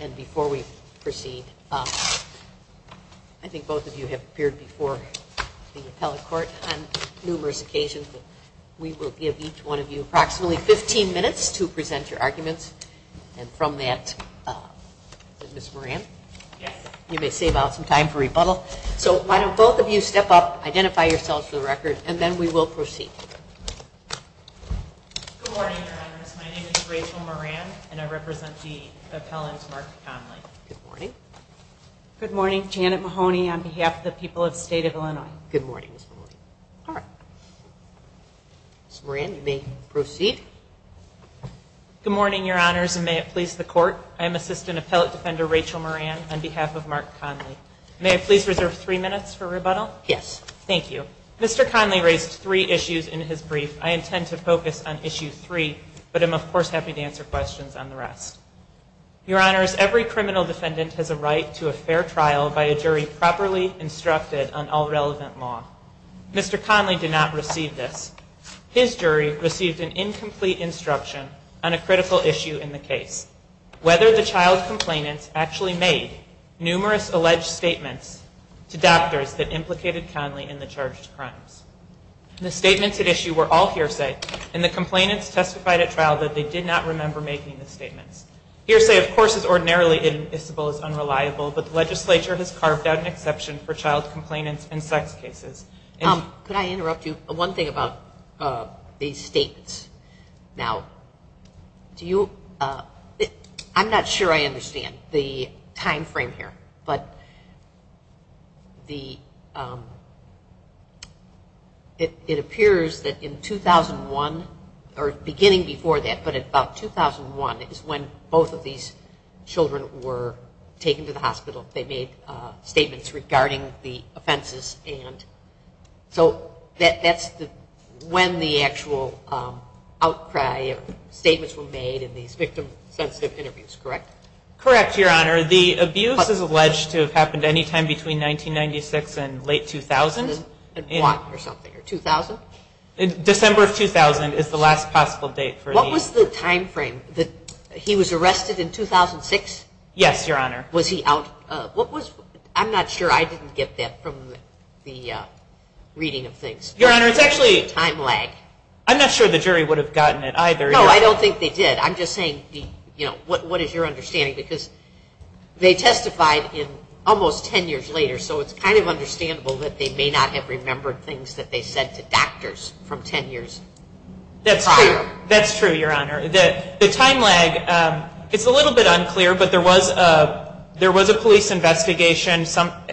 and before we proceed, I think both of you have appeared before the appellate court on numerous occasions. We will give each one of you approximately 15 minutes to present your arguments. And from that, Ms. Moran, you may save out some time for rebuttal. So why don't both of you step up, identify yourselves for the record, and then we will proceed. Good morning, Your Honors. My name is Rachel Moran and I represent the appellant Mark Conley. Good morning. Good morning. Janet Mahoney on behalf of the people of the state of Illinois. Good morning, Ms. Moran. All right. Ms. Moran, you may proceed. Good morning, Your Honors, and may it please the court. I am Assistant Appellate Defender Rachel Moran on behalf of Mark Conley. May I please reserve three minutes for rebuttal? Yes. Thank you. Mr. Conley raised three issues in his brief. I intend to focus on issue three, but I'm of course happy to answer questions on the rest. Your Honors, every criminal defendant has a right to a fair trial by a jury properly instructed on all relevant law. Mr. Conley did not receive this. His jury received an incomplete instruction on a critical issue in the case, whether the child complainant actually made numerous alleged statements to doctors that implicated Conley in the charged crimes. The statements at issue were all hearsay, and the complainants testified at trial that they did not remember making the statements. Hearsay, of course, is ordinarily inadmissible as unreliable, but the legislature has carved out an exception for child complainants in sex cases. Could I interrupt you? One thing about these statements. Now, do you, I'm not sure I understand the time frame here, but the, it appears that in 2001, or beginning before that, but about 2001 is when both of these children were taken to the hospital. They made statements regarding the offenses, and so that's when the actual outcry or statements were made in these victim-sensitive interviews, correct? Correct, Your Honor. The abuse is alleged to have happened any time between 1996 and late 2000. And what, or something, or 2000? December of 2000 is the last possible date for the. What was the time frame? He was arrested in 2006? Yes, Your Honor. Was he out, what was, I'm not sure, I didn't get that from the reading of things. Your Honor, it's actually. Time lag. I'm not sure the jury would have gotten it either. No, I don't think they did. I'm just saying, you know, what is your understanding? Because they testified in almost 10 years later, so it's kind of understandable that they may not have remembered things that they said to doctors from 10 years prior. That's true, Your Honor. The time lag, it's a little bit unclear, but there was a police investigation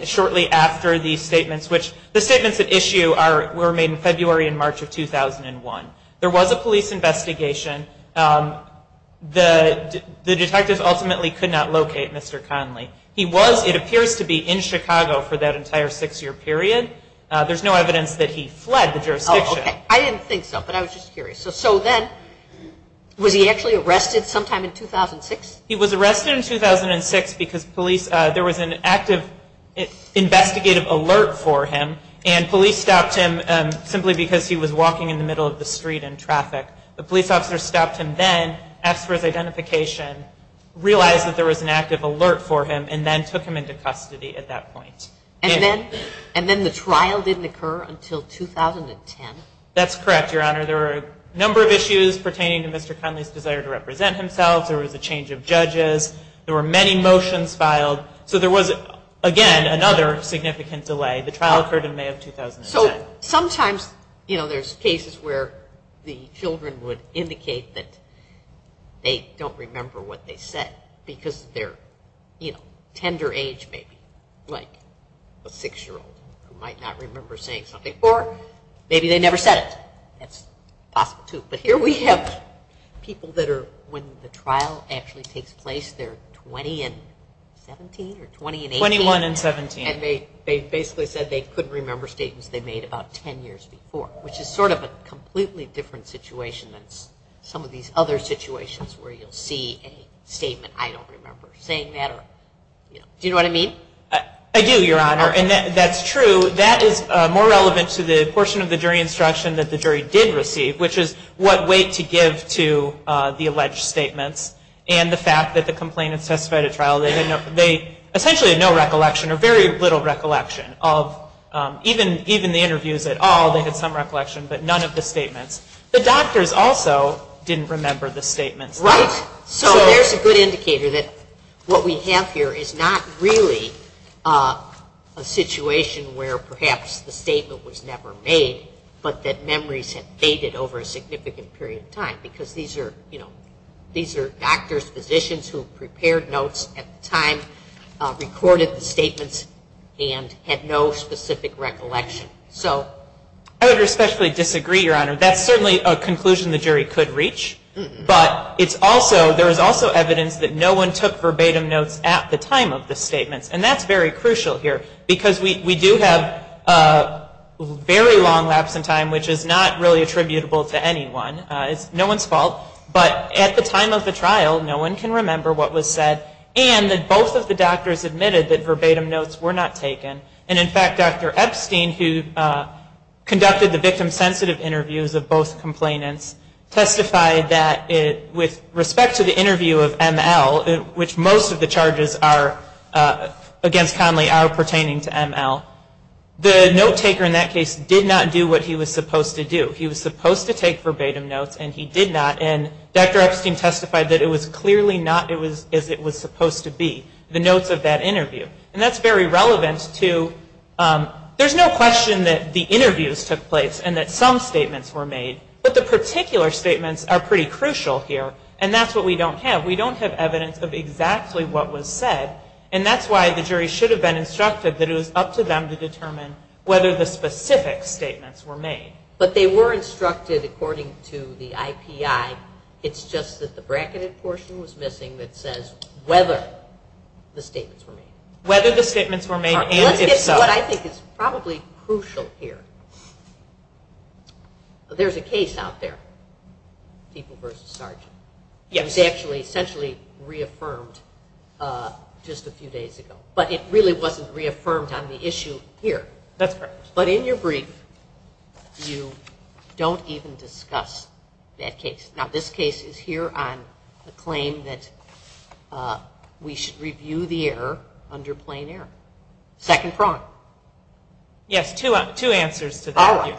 shortly after these statements, which the statements at issue were made in February and March of 2001. There was a police investigation. The detective ultimately could not locate Mr. Conley. He was, it appears to be, in Chicago for that entire six-year period. There's no evidence that he fled the jurisdiction. I didn't think so, but I was just curious. So then, was he actually arrested sometime in 2006? He was arrested in 2006 because police, there was an active investigative alert for him, and police stopped him simply because he was walking in the middle of the street in traffic. The police officer stopped him then, asked for his identification, realized that there was an active alert for him, and then took him into custody at that point. And then the trial didn't occur until 2010? That's correct, Your Honor. There were a number of issues pertaining to Mr. Conley's desire to represent himself. There was a change of judges. There were many motions filed. So there was, again, another significant delay. The trial occurred in May of 2010. So sometimes, you know, there's cases where the children would indicate that they don't remember what they said because they're, you know, tender age maybe, like a six-year-old who might not remember saying something. Or maybe they never said it. That's possible, too. But here we have people that are, when the trial actually takes place, they're 20 and 17 or 20 and 18? 21 and 17. And they basically said they couldn't remember statements they made about 10 years before, which is sort of a completely different situation than some of these other situations where you'll see a statement, I don't remember saying that or, you know. Do you know what I mean? I do, Your Honor, and that's true. That is more relevant to the portion of the jury instruction that the jury did receive, which is what weight to give to the alleged statements and the fact that the complainant testified at trial. They essentially had no recollection or very little recollection of, even the interviews at all, they had some recollection, but none of the statements. The doctors also didn't remember the statements. Right. So there's a good indicator that what we have here is not really a situation where perhaps the statement was never made, but that memories have faded over a significant period of time. Because these are, you know, these are doctors, physicians who prepared notes at the time, recorded the statements, and had no specific recollection. I would respectfully disagree, Your Honor. That's certainly a conclusion the jury could reach, but it's also, there's also evidence that no one took verbatim notes at the time of the statements. And that's very crucial here, because we do have a very long lapse in time, which is not really attributable to anyone. It's no one's fault. But at the time of the trial, no one can remember what was said, and that both of the doctors admitted that verbatim notes were not taken. And in fact, Dr. Epstein, who conducted the victim-sensitive interviews of both complainants, testified that with respect to the interview of ML, which most of the charges against Conley are pertaining to ML, the note taker in that case did not do what he was supposed to do. He was supposed to take verbatim notes, and he did not. And Dr. Epstein testified that it was clearly not as it was supposed to be, the notes of that interview. And that's very relevant to, there's no question that the interviews took place and that some statements were made, but the particular statements are pretty crucial here, and that's what we don't have. We don't have evidence of exactly what was said, and that's why the jury should have been instructed that it was up to them to determine whether the specific statements were made. But they were instructed according to the IPI, it's just that the bracketed portion was missing that says whether the statements were made. Whether the statements were made and if so. Let's get to what I think is probably crucial here. There's a case out there, People v. Sargent. Yes. It was essentially reaffirmed just a few days ago, but it really wasn't reaffirmed on the issue here. That's correct. But in your brief, you don't even discuss that case. Now this case is here on the claim that we should review the error under plain error. Second prong. Yes, two answers to that. All right.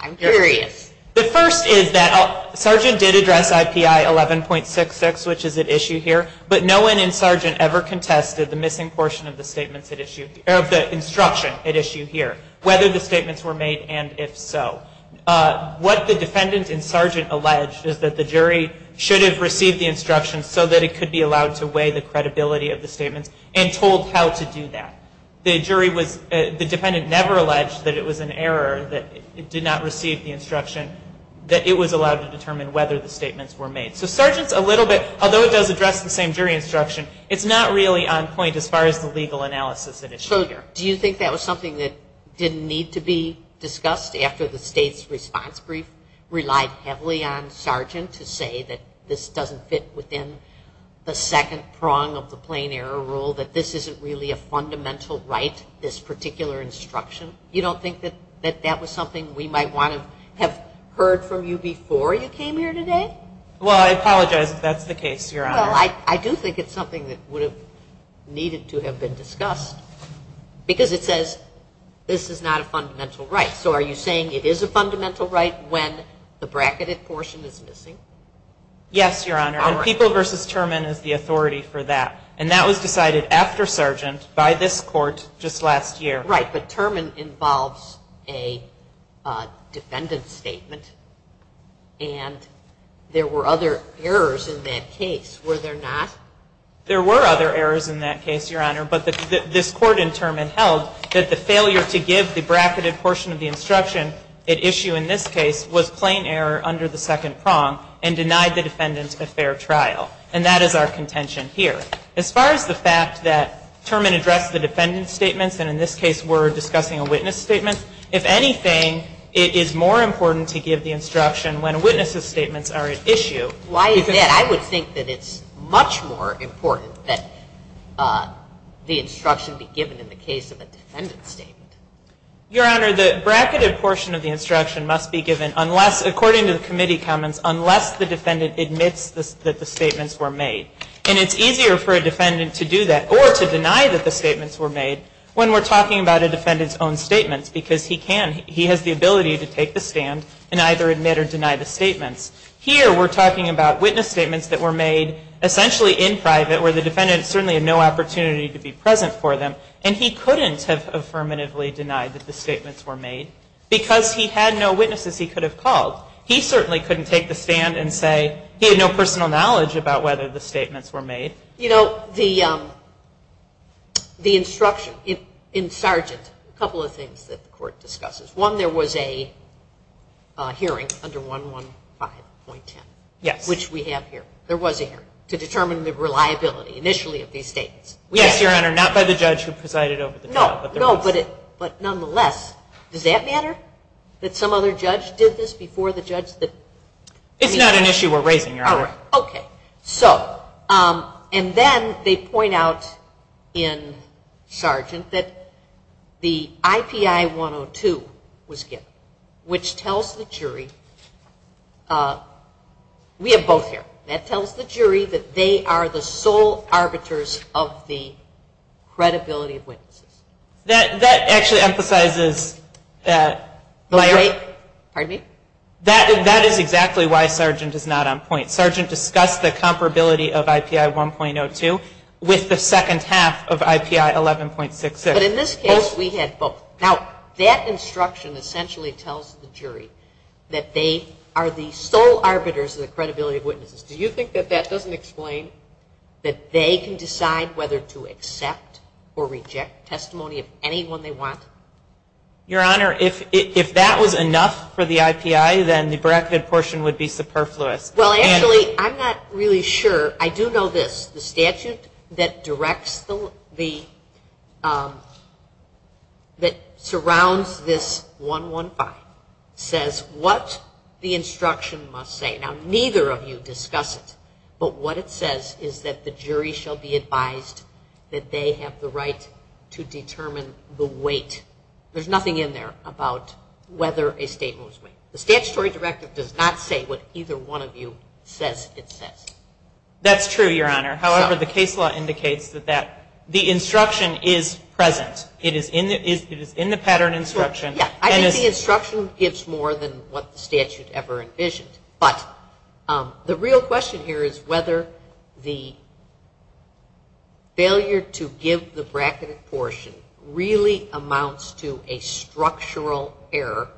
I'm curious. The first is that Sargent did address IPI 11.66, which is at issue here, but no one in Sargent ever contested the missing portion of the statements at issue, of the instruction at issue here, whether the statements were made and if so. What the defendant in Sargent alleged is that the jury should have received the instructions so that it could be allowed to weigh the credibility of the statements and told how to do that. The jury was, the defendant never alleged that it was an error, that it did not receive the instruction, that it was allowed to determine whether the statements were made. So Sargent's a little bit, although it does address the same jury instruction, it's not really on point as far as the legal analysis at issue. So do you think that was something that didn't need to be discussed after the state's response brief relied heavily on Sargent to say that this doesn't fit within the second prong of the plain error rule, that this isn't really a fundamental right, this particular instruction? You don't think that that was something we might want to have heard from you before you came here today? Well, I apologize if that's the case, Your Honor. Well, I do think it's something that would have needed to have been discussed because it says this is not a fundamental right. So are you saying it is a fundamental right when the bracketed portion is missing? Yes, Your Honor. All right. And People v. Terman is the authority for that. And that was decided after Sargent by this Court just last year. Right, but Terman involves a defendant's statement, and there were other errors in that case, were there not? There were other errors in that case, Your Honor, but this Court in Terman held that the failure to give the bracketed portion of the instruction at issue in this case was plain error under the second prong and denied the defendant a fair trial. And that is our contention here. As far as the fact that Terman addressed the defendant's statements, and in this case we're discussing a witness statement, if anything, it is more important to give the instruction when a witness's statements are at issue. Why is that? I would think that it's much more important that the instruction be given in the case of a defendant's statement. Your Honor, the bracketed portion of the instruction must be given, according to the committee comments, unless the defendant admits that the statements were made. And it's easier for a defendant to do that, or to deny that the statements were made, when we're talking about a defendant's own statements, because he can. He has the ability to take the stand and either admit or deny the statements. Here we're talking about witness statements that were made essentially in private, where the defendant certainly had no opportunity to be present for them, and he couldn't have affirmatively denied that the statements were made, because he had no witnesses he could have called. He certainly couldn't take the stand and say he had no personal knowledge about whether the statements were made. You know, the instruction in Sargent, a couple of things that the Court discusses. One, there was a hearing under 115.10, which we have here. There was a hearing to determine the reliability initially of these statements. Yes, Your Honor, not by the judge who presided over the trial. No, but nonetheless, does that matter, that some other judge did this before the judge? It's not an issue we're raising, Your Honor. All right, okay. So, and then they point out in Sargent that the IPI-102 was given, which tells the jury, we have both here, that tells the jury that they are the sole arbiters of the credibility of witnesses. That actually emphasizes that. Pardon me? That is exactly why Sargent is not on point. Sargent discussed the comparability of IPI-1.02 with the second half of IPI-11.66. But in this case, we had both. Now, that instruction essentially tells the jury that they are the sole arbiters of the credibility of witnesses. Do you think that that doesn't explain that they can decide whether to accept or reject testimony of anyone they want? Your Honor, if that was enough for the IPI, then the bracketed portion would be superfluous. Well, actually, I'm not really sure. I do know this. The statute that directs the, that surrounds this 115 says what the instruction must say. Now, neither of you discuss it. But what it says is that the jury shall be advised that they have the right to determine the weight. There's nothing in there about whether a statement was made. The statutory directive does not say what either one of you says it says. That's true, Your Honor. However, the case law indicates that the instruction is present. It is in the pattern instruction. Yeah, I think the instruction gives more than what the statute ever envisioned. But the real question here is whether the failure to give the bracketed portion really amounts to a structural error,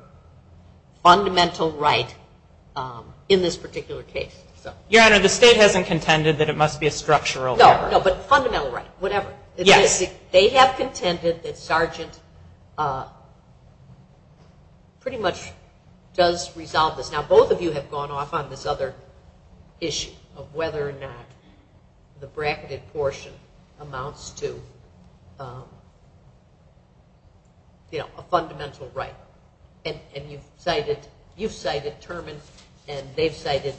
fundamental right in this particular case. Your Honor, the state hasn't contended that it must be a structural error. No, but fundamental right, whatever. Yes. They have contended that Sargent pretty much does resolve this. Now, both of you have gone off on this other issue of whether or not the bracketed portion amounts to, you know, a fundamental right. And you've cited Terman, and they've cited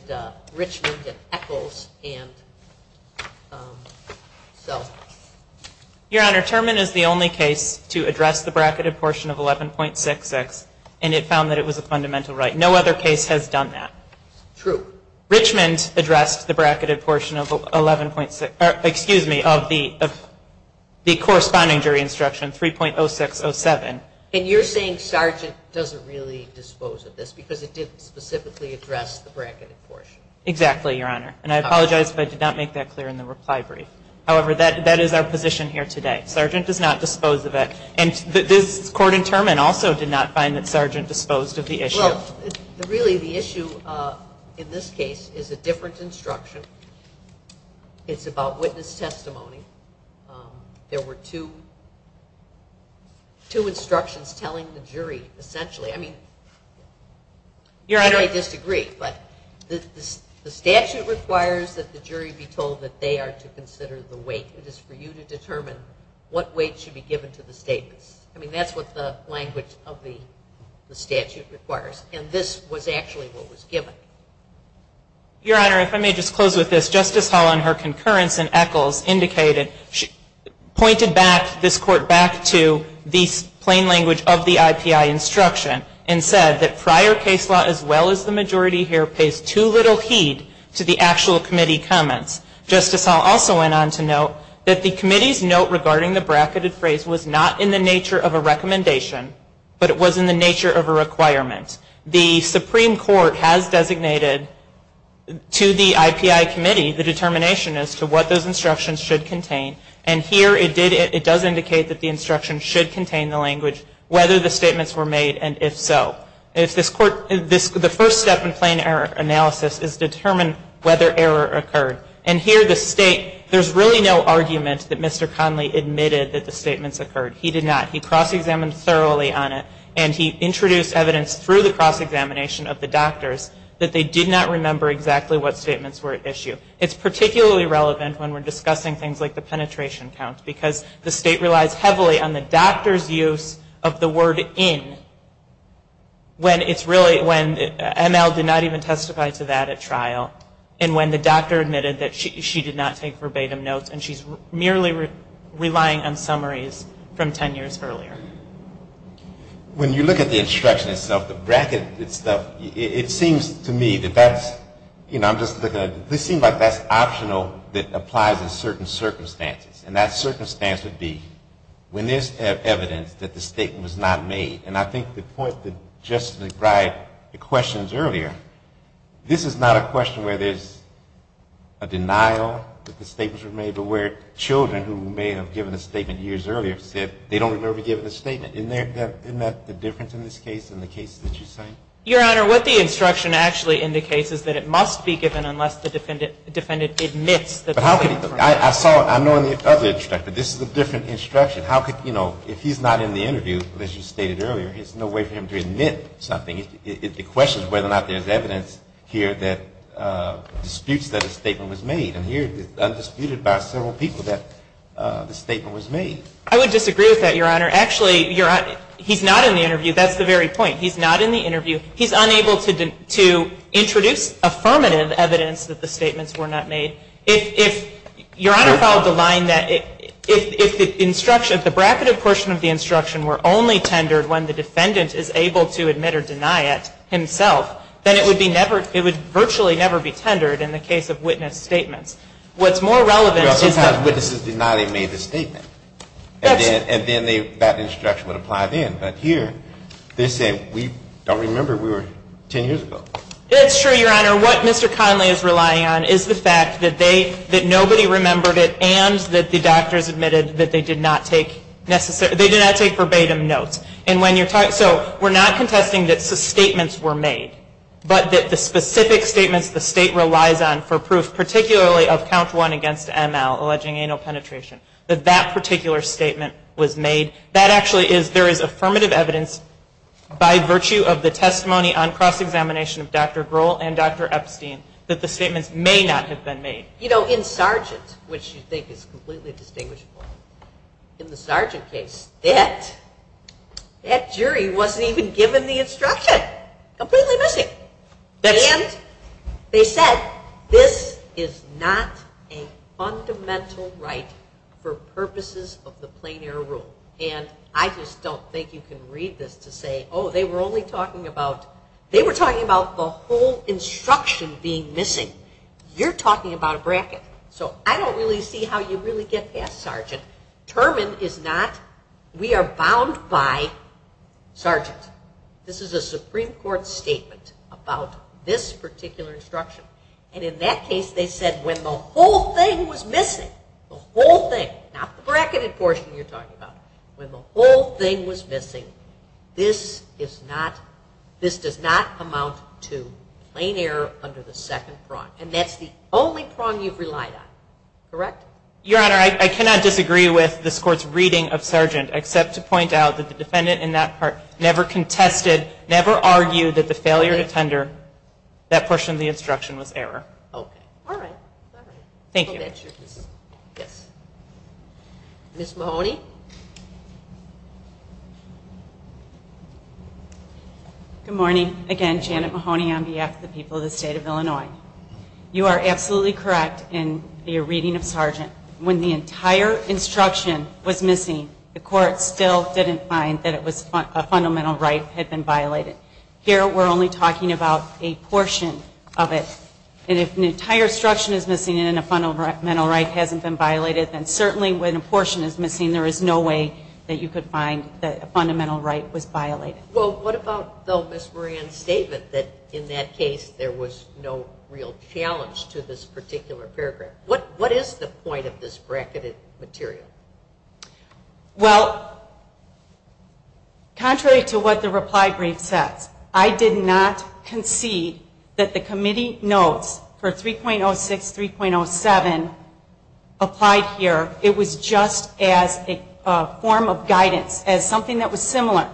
Richmond, and Echols, and so. Your Honor, Terman is the only case to address the bracketed portion of 11.66, and it found that it was a fundamental right. No other case has done that. True. Richmond addressed the bracketed portion of the corresponding jury instruction, 3.0607. And you're saying Sargent doesn't really dispose of this because it didn't specifically address the bracketed portion. Exactly, Your Honor. And I apologize if I did not make that clear in the reply brief. However, that is our position here today. Sargent does not dispose of it. And this Court in Terman also did not find that Sargent disposed of the issue. Well, really the issue in this case is a different instruction. It's about witness testimony. There were two instructions telling the jury essentially. I mean, you may disagree, but the statute requires that the jury be told that they are to consider the weight. It is for you to determine what weight should be given to the statements. I mean, that's what the language of the statute requires. And this was actually what was given. Your Honor, if I may just close with this. Justice Hall, in her concurrence in Eccles, pointed this Court back to the plain language of the IPI instruction and said that prior case law as well as the majority here pays too little heed to the actual committee comments. Justice Hall also went on to note that the committee's note regarding the bracketed phrase was not in the nature of a recommendation, but it was in the nature of a requirement. The Supreme Court has designated to the IPI committee the determination as to what those instructions should contain. And here it does indicate that the instructions should contain the language whether the statements were made and if so. The first step in plain error analysis is determine whether error occurred. And here the State, there's really no argument that Mr. Conley admitted that the statements occurred. He did not. He cross-examined thoroughly on it and he introduced evidence through the cross-examination of the doctors that they did not remember exactly what statements were at issue. It's particularly relevant when we're discussing things like the penetration count because the State relies heavily on the doctor's use of the word in when it's really, when ML did not even testify to that at trial and when the doctor admitted that she did not take verbatim notes and she's merely relying on summaries from 10 years earlier. When you look at the instruction itself, the bracketed stuff, it seems to me that that's, you know, this seems like that's optional that applies in certain circumstances. And that circumstance would be when there's evidence that the statement was not made. And I think the point that Justice McBride questions earlier, this is not a question where there's a denial that the statements were made, but where children who may have given a statement years earlier said they don't remember giving a statement. Isn't that the difference in this case and the case that you cite? Your Honor, what the instruction actually indicates is that it must be given unless the defendant admits that the statement occurred. But how could he? I saw it. I know in the other instruction. This is a different instruction. How could, you know, if he's not in the interview, as you stated earlier, there's no way for him to admit something. The question is whether or not there's evidence here that disputes that a statement was made. And here it is undisputed by several people that the statement was made. I would disagree with that, Your Honor. Actually, he's not in the interview. That's the very point. He's not in the interview. He's unable to introduce affirmative evidence that the statements were not made. If Your Honor followed the line that if the instruction, the bracketed portion of the instruction were only tendered when the defendant is able to admit or deny it himself, then it would be never, it would virtually never be tendered in the case of witness statements. What's more relevant is that. Sometimes witnesses deny they made the statement. That's. And then they, that instruction would apply then. But here they say we don't remember, we were 10 years ago. It's true, Your Honor. What Mr. Conley is relying on is the fact that they, that nobody remembered it and that the doctors admitted that they did not take necessary, they did not take verbatim notes. And when you're talking, so we're not contesting that statements were made, but that the specific statements the state relies on for proof, particularly of count one against ML, alleging anal penetration, that that particular statement was made. That actually is, there is affirmative evidence by virtue of the testimony on cross-examination of Dr. Grohl and Dr. Epstein that the statements may not have been made. You know, in Sargent, which you think is completely distinguishable, in the Sargent case, that, that jury wasn't even given the instruction. Completely missing. And they said this is not a fundamental right for purposes of the Plain Air Rule. And I just don't think you can read this to say, oh, they were only talking about, they were talking about the whole instruction being missing. You're talking about a bracket. So I don't really see how you really get past Sargent. Termin is not, we are bound by Sargent. This is a Supreme Court statement about this particular instruction. And in that case, they said when the whole thing was missing, the whole thing, not the bracketed portion you're talking about, when the whole thing was missing, this is not, this does not amount to plain air under the second prong. And that's the only prong you've relied on. Correct? Your Honor, I cannot disagree with this Court's reading of Sargent, except to point out that the defendant in that part never contested, never argued that the failure to tender that portion of the instruction was error. Okay. All right. All right. Thank you. Yes. Ms. Mahoney? Good morning. Again, Janet Mahoney on behalf of the people of the State of Illinois. You are absolutely correct in your reading of Sargent. When the entire instruction was missing, the Court still didn't find that it was a fundamental right had been violated. Here we're only talking about a portion of it. And if an entire instruction is missing and a fundamental right hasn't been violated, then certainly when a portion is missing, there is no way that you could find that a fundamental right was violated. Well, what about, though, Ms. Moran's statement that in that case, there was no real challenge to this particular paragraph? What is the point of this bracketed material? Well, contrary to what the reply brief says, I did not concede that the committee notes for 3.06, 3.07 applied here. It was just as a form of guidance, as something that was similar.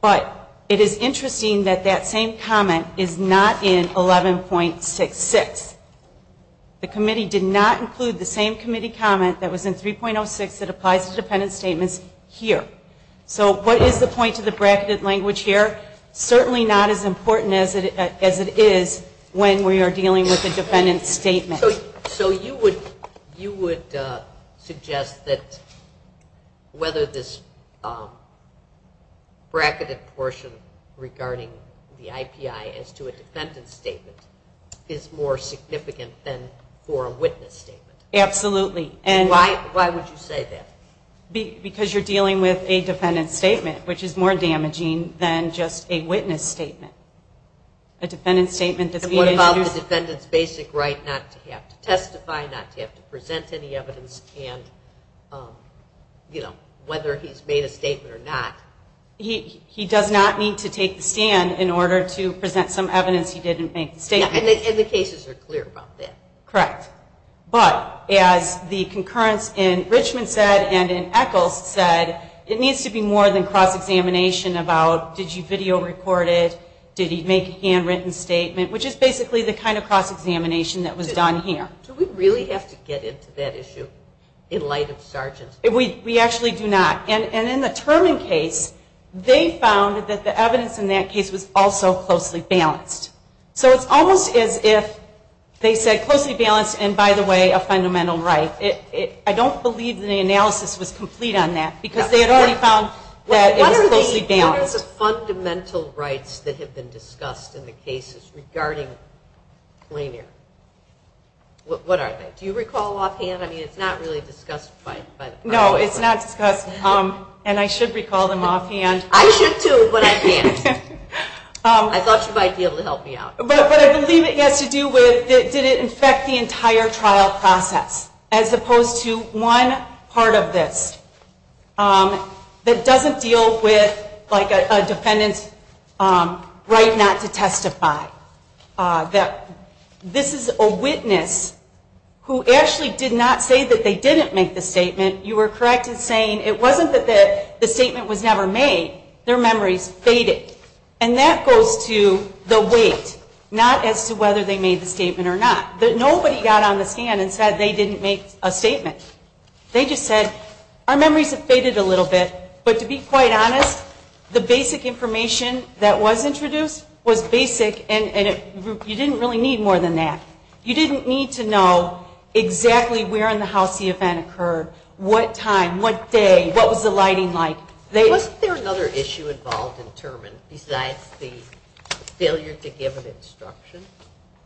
But it is interesting that that same comment is not in 11.66. The committee did not include the same committee comment that was in 3.06 that applies to dependent statements here. So what is the point of the bracketed language here? Certainly not as important as it is when we are dealing with a dependent statement. So you would suggest that whether this bracketed portion regarding the IPI as to a dependent statement is more significant than for a witness statement? Absolutely. Why would you say that? Because you're dealing with a dependent statement, which is more damaging than just a witness statement. And what about the defendant's basic right not to have to testify, not to have to present any evidence, and whether he's made a statement or not? He does not need to take the stand in order to present some evidence he didn't make the statement. And the cases are clear about that. Correct. But as the concurrence in Richmond said and in Echols said, it needs to be more than cross-examination about did you video record it, did he make a handwritten statement, which is basically the kind of cross-examination that was done here. Do we really have to get into that issue in light of Sargent? We actually do not. And in the Turman case, they found that the evidence in that case was also closely balanced. So it's almost as if they said closely balanced and, by the way, a fundamental right. I don't believe that the analysis was complete on that because they had already found that it was closely balanced. What are the fundamental rights that have been discussed in the cases regarding plain air? What are they? Do you recall offhand? I mean, it's not really discussed by the public. No, it's not discussed, and I should recall them offhand. I should, too, but I can't. I thought you might be able to help me out. But I believe it has to do with did it affect the entire trial process as opposed to one part of this that doesn't deal with, like, a defendant's right not to testify. This is a witness who actually did not say that they didn't make the statement. You were correct in saying it wasn't that the statement was never made. Their memories faded. And that goes to the weight, not as to whether they made the statement or not. Nobody got on the scan and said they didn't make a statement. They just said, our memories have faded a little bit. But to be quite honest, the basic information that was introduced was basic, and you didn't really need more than that. You didn't need to know exactly where in the house the event occurred, what time, what day, what was the lighting like. Wasn't there another issue involved in Terman besides the failure to give an instruction?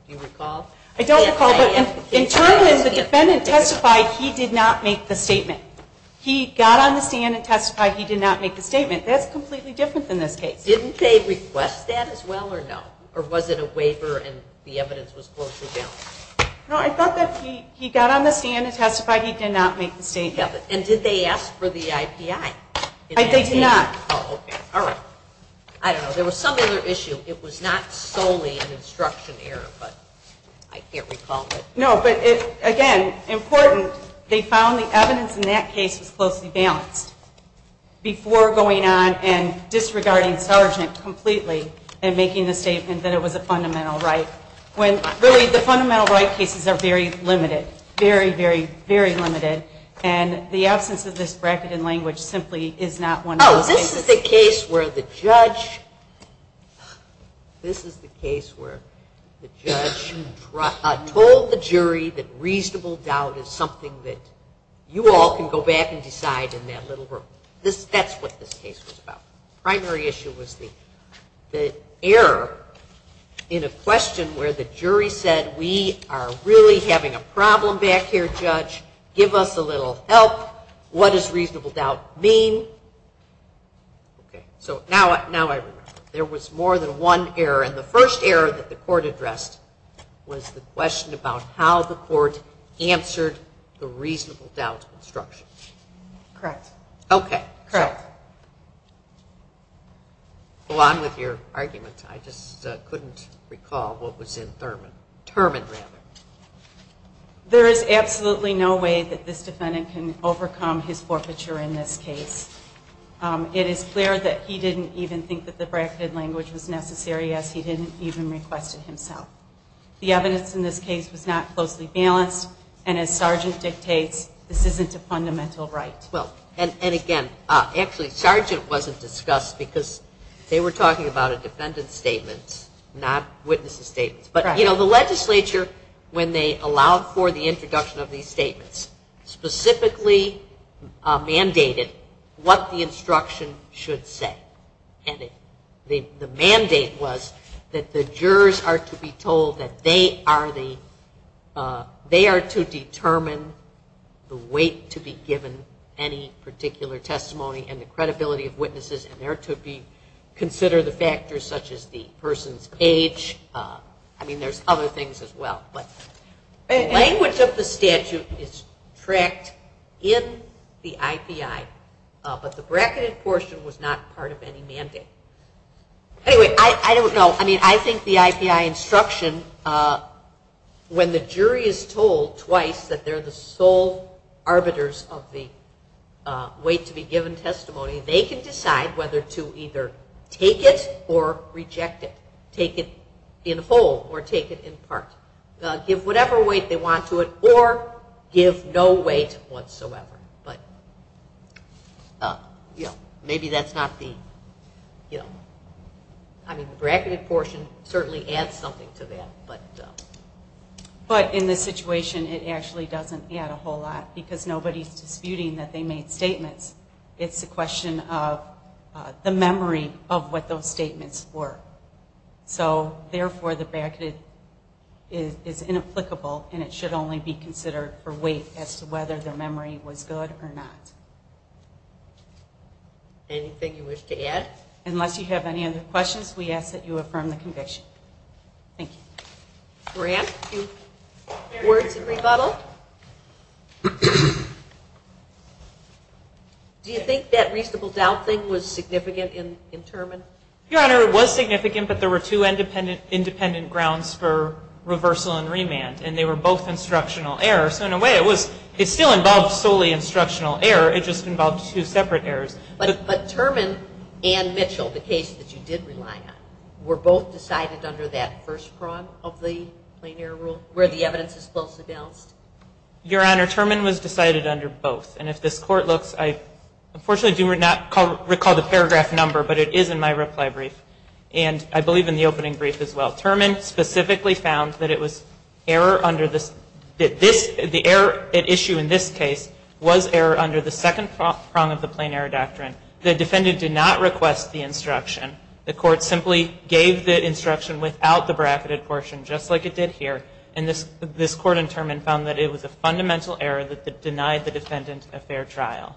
Do you recall? I don't recall. But in Terman, the defendant testified he did not make the statement. He got on the scan and testified he did not make the statement. That's completely different than this case. Didn't they request that as well or no? Or was it a waiver and the evidence was closely bound? No, I thought that he got on the scan and testified he did not make the statement. And did they ask for the IPI? They did not. Oh, okay. All right. I don't know. There was some other issue. It was not solely an instruction error, but I can't recall. No, but again, important, they found the evidence in that case was closely balanced before going on and disregarding Sargent completely and making the statement that it was a fundamental right. Really, the fundamental right cases are very limited, very, very, very limited, and the absence of this bracket in language simply is not one of those cases. No, this is the case where the judge told the jury that reasonable doubt is something that you all can go back and decide in that little room. That's what this case was about. The primary issue was the error in a question where the jury said, we are really having a problem back here, judge. Give us a little help. What does reasonable doubt mean? So now I remember. There was more than one error, and the first error that the court addressed was the question about how the court answered the reasonable doubt instruction. Correct. Okay. Correct. Go on with your argument. I just couldn't recall what was in Thurman. There is absolutely no way that this defendant can overcome his forfeiture in this case. It is clear that he didn't even think that the bracketed language was necessary, as he didn't even request it himself. The evidence in this case was not closely balanced, and as Sargent dictates, this isn't a fundamental right. And, again, actually Sargent wasn't discussed because they were talking about a defendant's statement, not witnesses' statements. But, you know, the legislature, when they allowed for the introduction of these statements, specifically mandated what the instruction should say. And the mandate was that the jurors are to be told that they are to determine the weight to be given any factors such as the person's age. I mean, there's other things as well. But language of the statute is tracked in the IPI, but the bracketed portion was not part of any mandate. Anyway, I don't know. I mean, I think the IPI instruction, when the jury is told twice that they're the sole arbiters of the weight to be given testimony, they can decide whether to either take it or reject it, take it in whole or take it in part, give whatever weight they want to it, or give no weight whatsoever. But, you know, maybe that's not the, you know. I mean, the bracketed portion certainly adds something to that. But in this situation, it actually doesn't add a whole lot because nobody is disputing that they made statements. It's a question of the memory of what those statements were. So, therefore, the bracketed is inapplicable, and it should only be considered for weight as to whether the memory was good or not. Anything you wish to add? Unless you have any other questions, we ask that you affirm the conviction. Thank you. Grant, words of rebuttal? Do you think that reasonable doubt thing was significant in Terman? Your Honor, it was significant, but there were two independent grounds for reversal and remand, and they were both instructional errors. So, in a way, it still involved solely instructional error. It just involved two separate errors. But Terman and Mitchell, the case that you did rely on, were both decided under that first prong of the plain error rule where the evidence is closely balanced? Your Honor, Terman was decided under both. And if this Court looks, I unfortunately do not recall the paragraph number, but it is in my reply brief, and I believe in the opening brief as well. Terman specifically found that it was error under this, that this, the error at issue in this case was error under the second prong of the plain error doctrine. The defendant did not request the instruction. The Court simply gave the instruction without the bracketed portion, just like it did here. And this Court in Terman found that it was a fundamental error that denied the defendant a fair trial.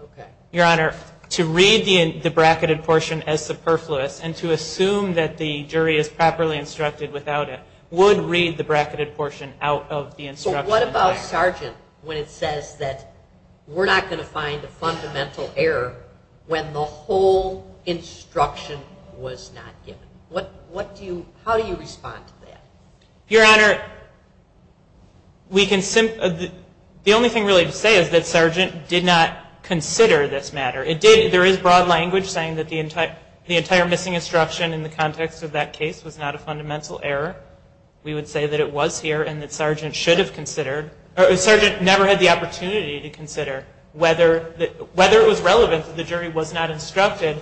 Okay. Your Honor, to read the bracketed portion as superfluous and to assume that the jury is properly instructed without it would read the bracketed portion out of the instruction. So what about Sargent when it says that we're not going to find a fundamental error when the whole instruction was not given? What do you, how do you respond to that? Your Honor, we can, the only thing really to say is that Sargent did not consider this matter. It did, there is broad language saying that the entire missing instruction in the context of that case was not a fundamental error. We would say that it was here and that Sargent should have considered, or Sargent never had the opportunity to consider whether it was relevant that the jury was not instructed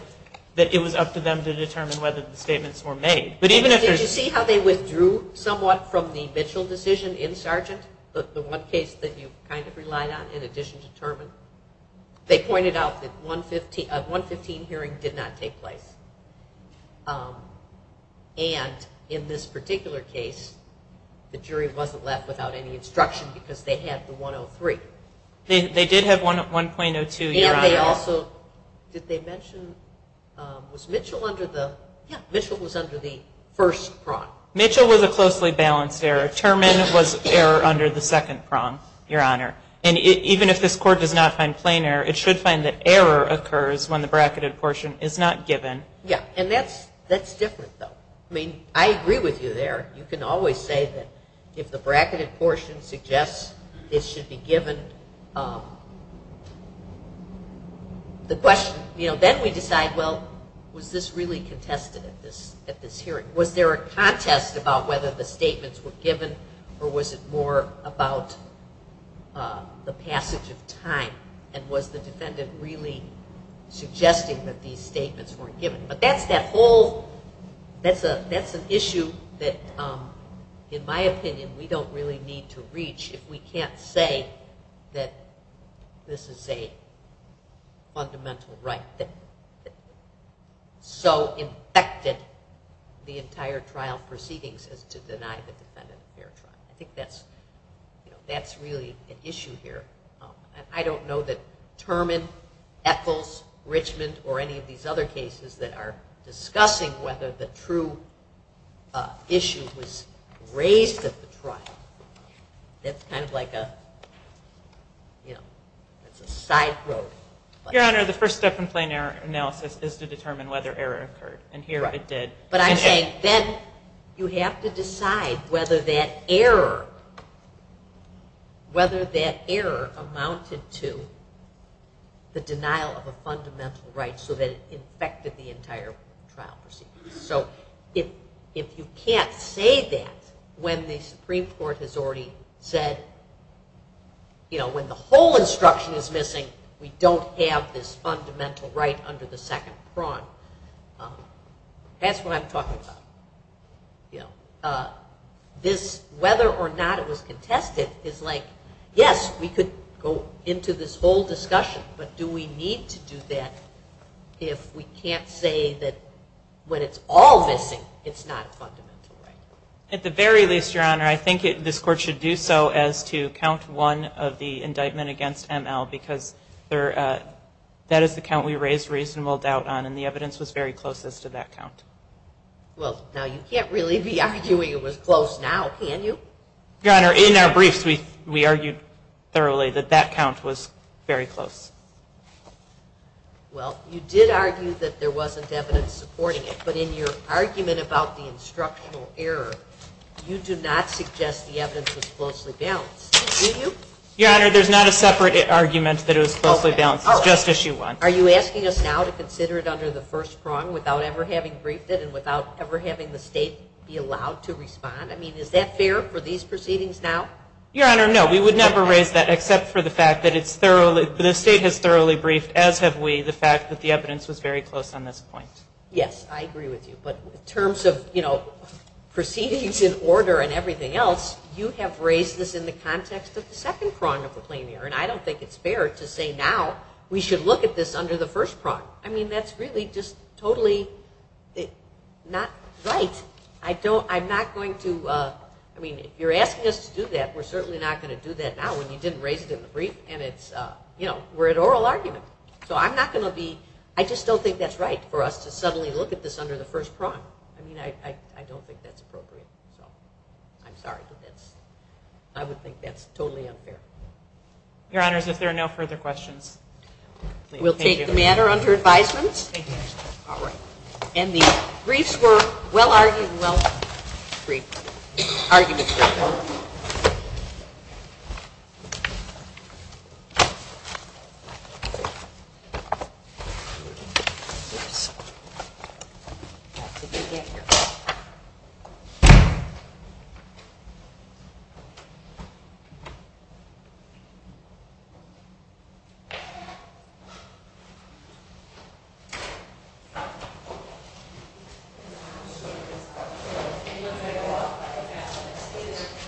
that it was up to them to determine whether the statements were made. But even if there's... Did you see how they withdrew somewhat from the Mitchell decision in Sargent, the one case that you kind of relied on in addition to Terman? They pointed out that 115 hearing did not take place. And in this particular case, the jury wasn't left without any instruction because they had the 103. They did have 1.02, Your Honor. And they also, did they mention, was Mitchell under the, yeah, Mitchell was under the first prong. Mitchell was a closely balanced error. Terman was error under the second prong, Your Honor. And even if this court does not find plain error, it should find that error occurs when the bracketed portion is not given. Yeah, and that's different, though. I mean, I agree with you there. You can always say that if the bracketed portion suggests it should be given, the question, you know, then we decide, well, was this really contested at this hearing? Was there a contest about whether the statements were given or was it more about the passage of time? And was the defendant really suggesting that these statements weren't given? But that's that whole, that's an issue that, in my opinion, we don't really need to reach if we can't say that this is a fundamental right that so infected the entire trial proceedings as to deny the defendant a fair trial. I think that's, you know, that's really an issue here. And I don't know that Terman, Ethels, Richmond, or any of these other cases that are discussing whether the true issue was raised at the trial. That's kind of like a, you know, that's a side road. Your Honor, the first step in plain error analysis is to determine whether error occurred. And here it did. But I'm saying then you have to decide whether that error, whether that error amounted to the denial of a fundamental right so that it infected the entire trial proceedings. So if you can't say that when the Supreme Court has already said, you know, when the whole instruction is missing, we don't have this fundamental right under the second prong, that's what I'm talking about. This, whether or not it was contested, is like, yes, we could go into this whole discussion, but do we need to do that if we can't say that when it's all missing, it's not a fundamental right? At the very least, Your Honor, I think this Court should do so as to count one of the indictment against ML because that is the count we raised reasonable doubt on, and the evidence was very close as to that count. Well, now you can't really be arguing it was close now, can you? Your Honor, in our briefs we argued thoroughly that that count was very close. Well, you did argue that there wasn't evidence supporting it, but in your argument about the instructional error, you do not suggest the evidence was closely balanced, do you? Your Honor, there's not a separate argument that it was closely balanced. It's just issue one. Are you asking us now to consider it under the first prong without ever having briefed it and without ever having the State be allowed to respond? I mean, is that fair for these proceedings now? Your Honor, no. We would never raise that except for the fact that the State has thoroughly briefed, as have we, the fact that the evidence was very close on this point. Yes, I agree with you. But in terms of, you know, proceedings in order and everything else, you have raised this in the context of the second prong of the plain error, and I don't think it's fair to say now we should look at this under the first prong. I mean, that's really just totally not right. I'm not going to, I mean, if you're asking us to do that, we're certainly not going to do that now when you didn't raise it in the brief, and it's, you know, we're at oral argument. So I'm not going to be, I just don't think that's right for us to suddenly look at this under the first prong. I mean, I don't think that's appropriate. So I'm sorry, but that's, I would think that's totally unfair. Your Honors, if there are no further questions. We'll take the matter under advisement. Thank you, Your Honor. All right. And the briefs were well-argued and well-briefed.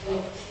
Thank you.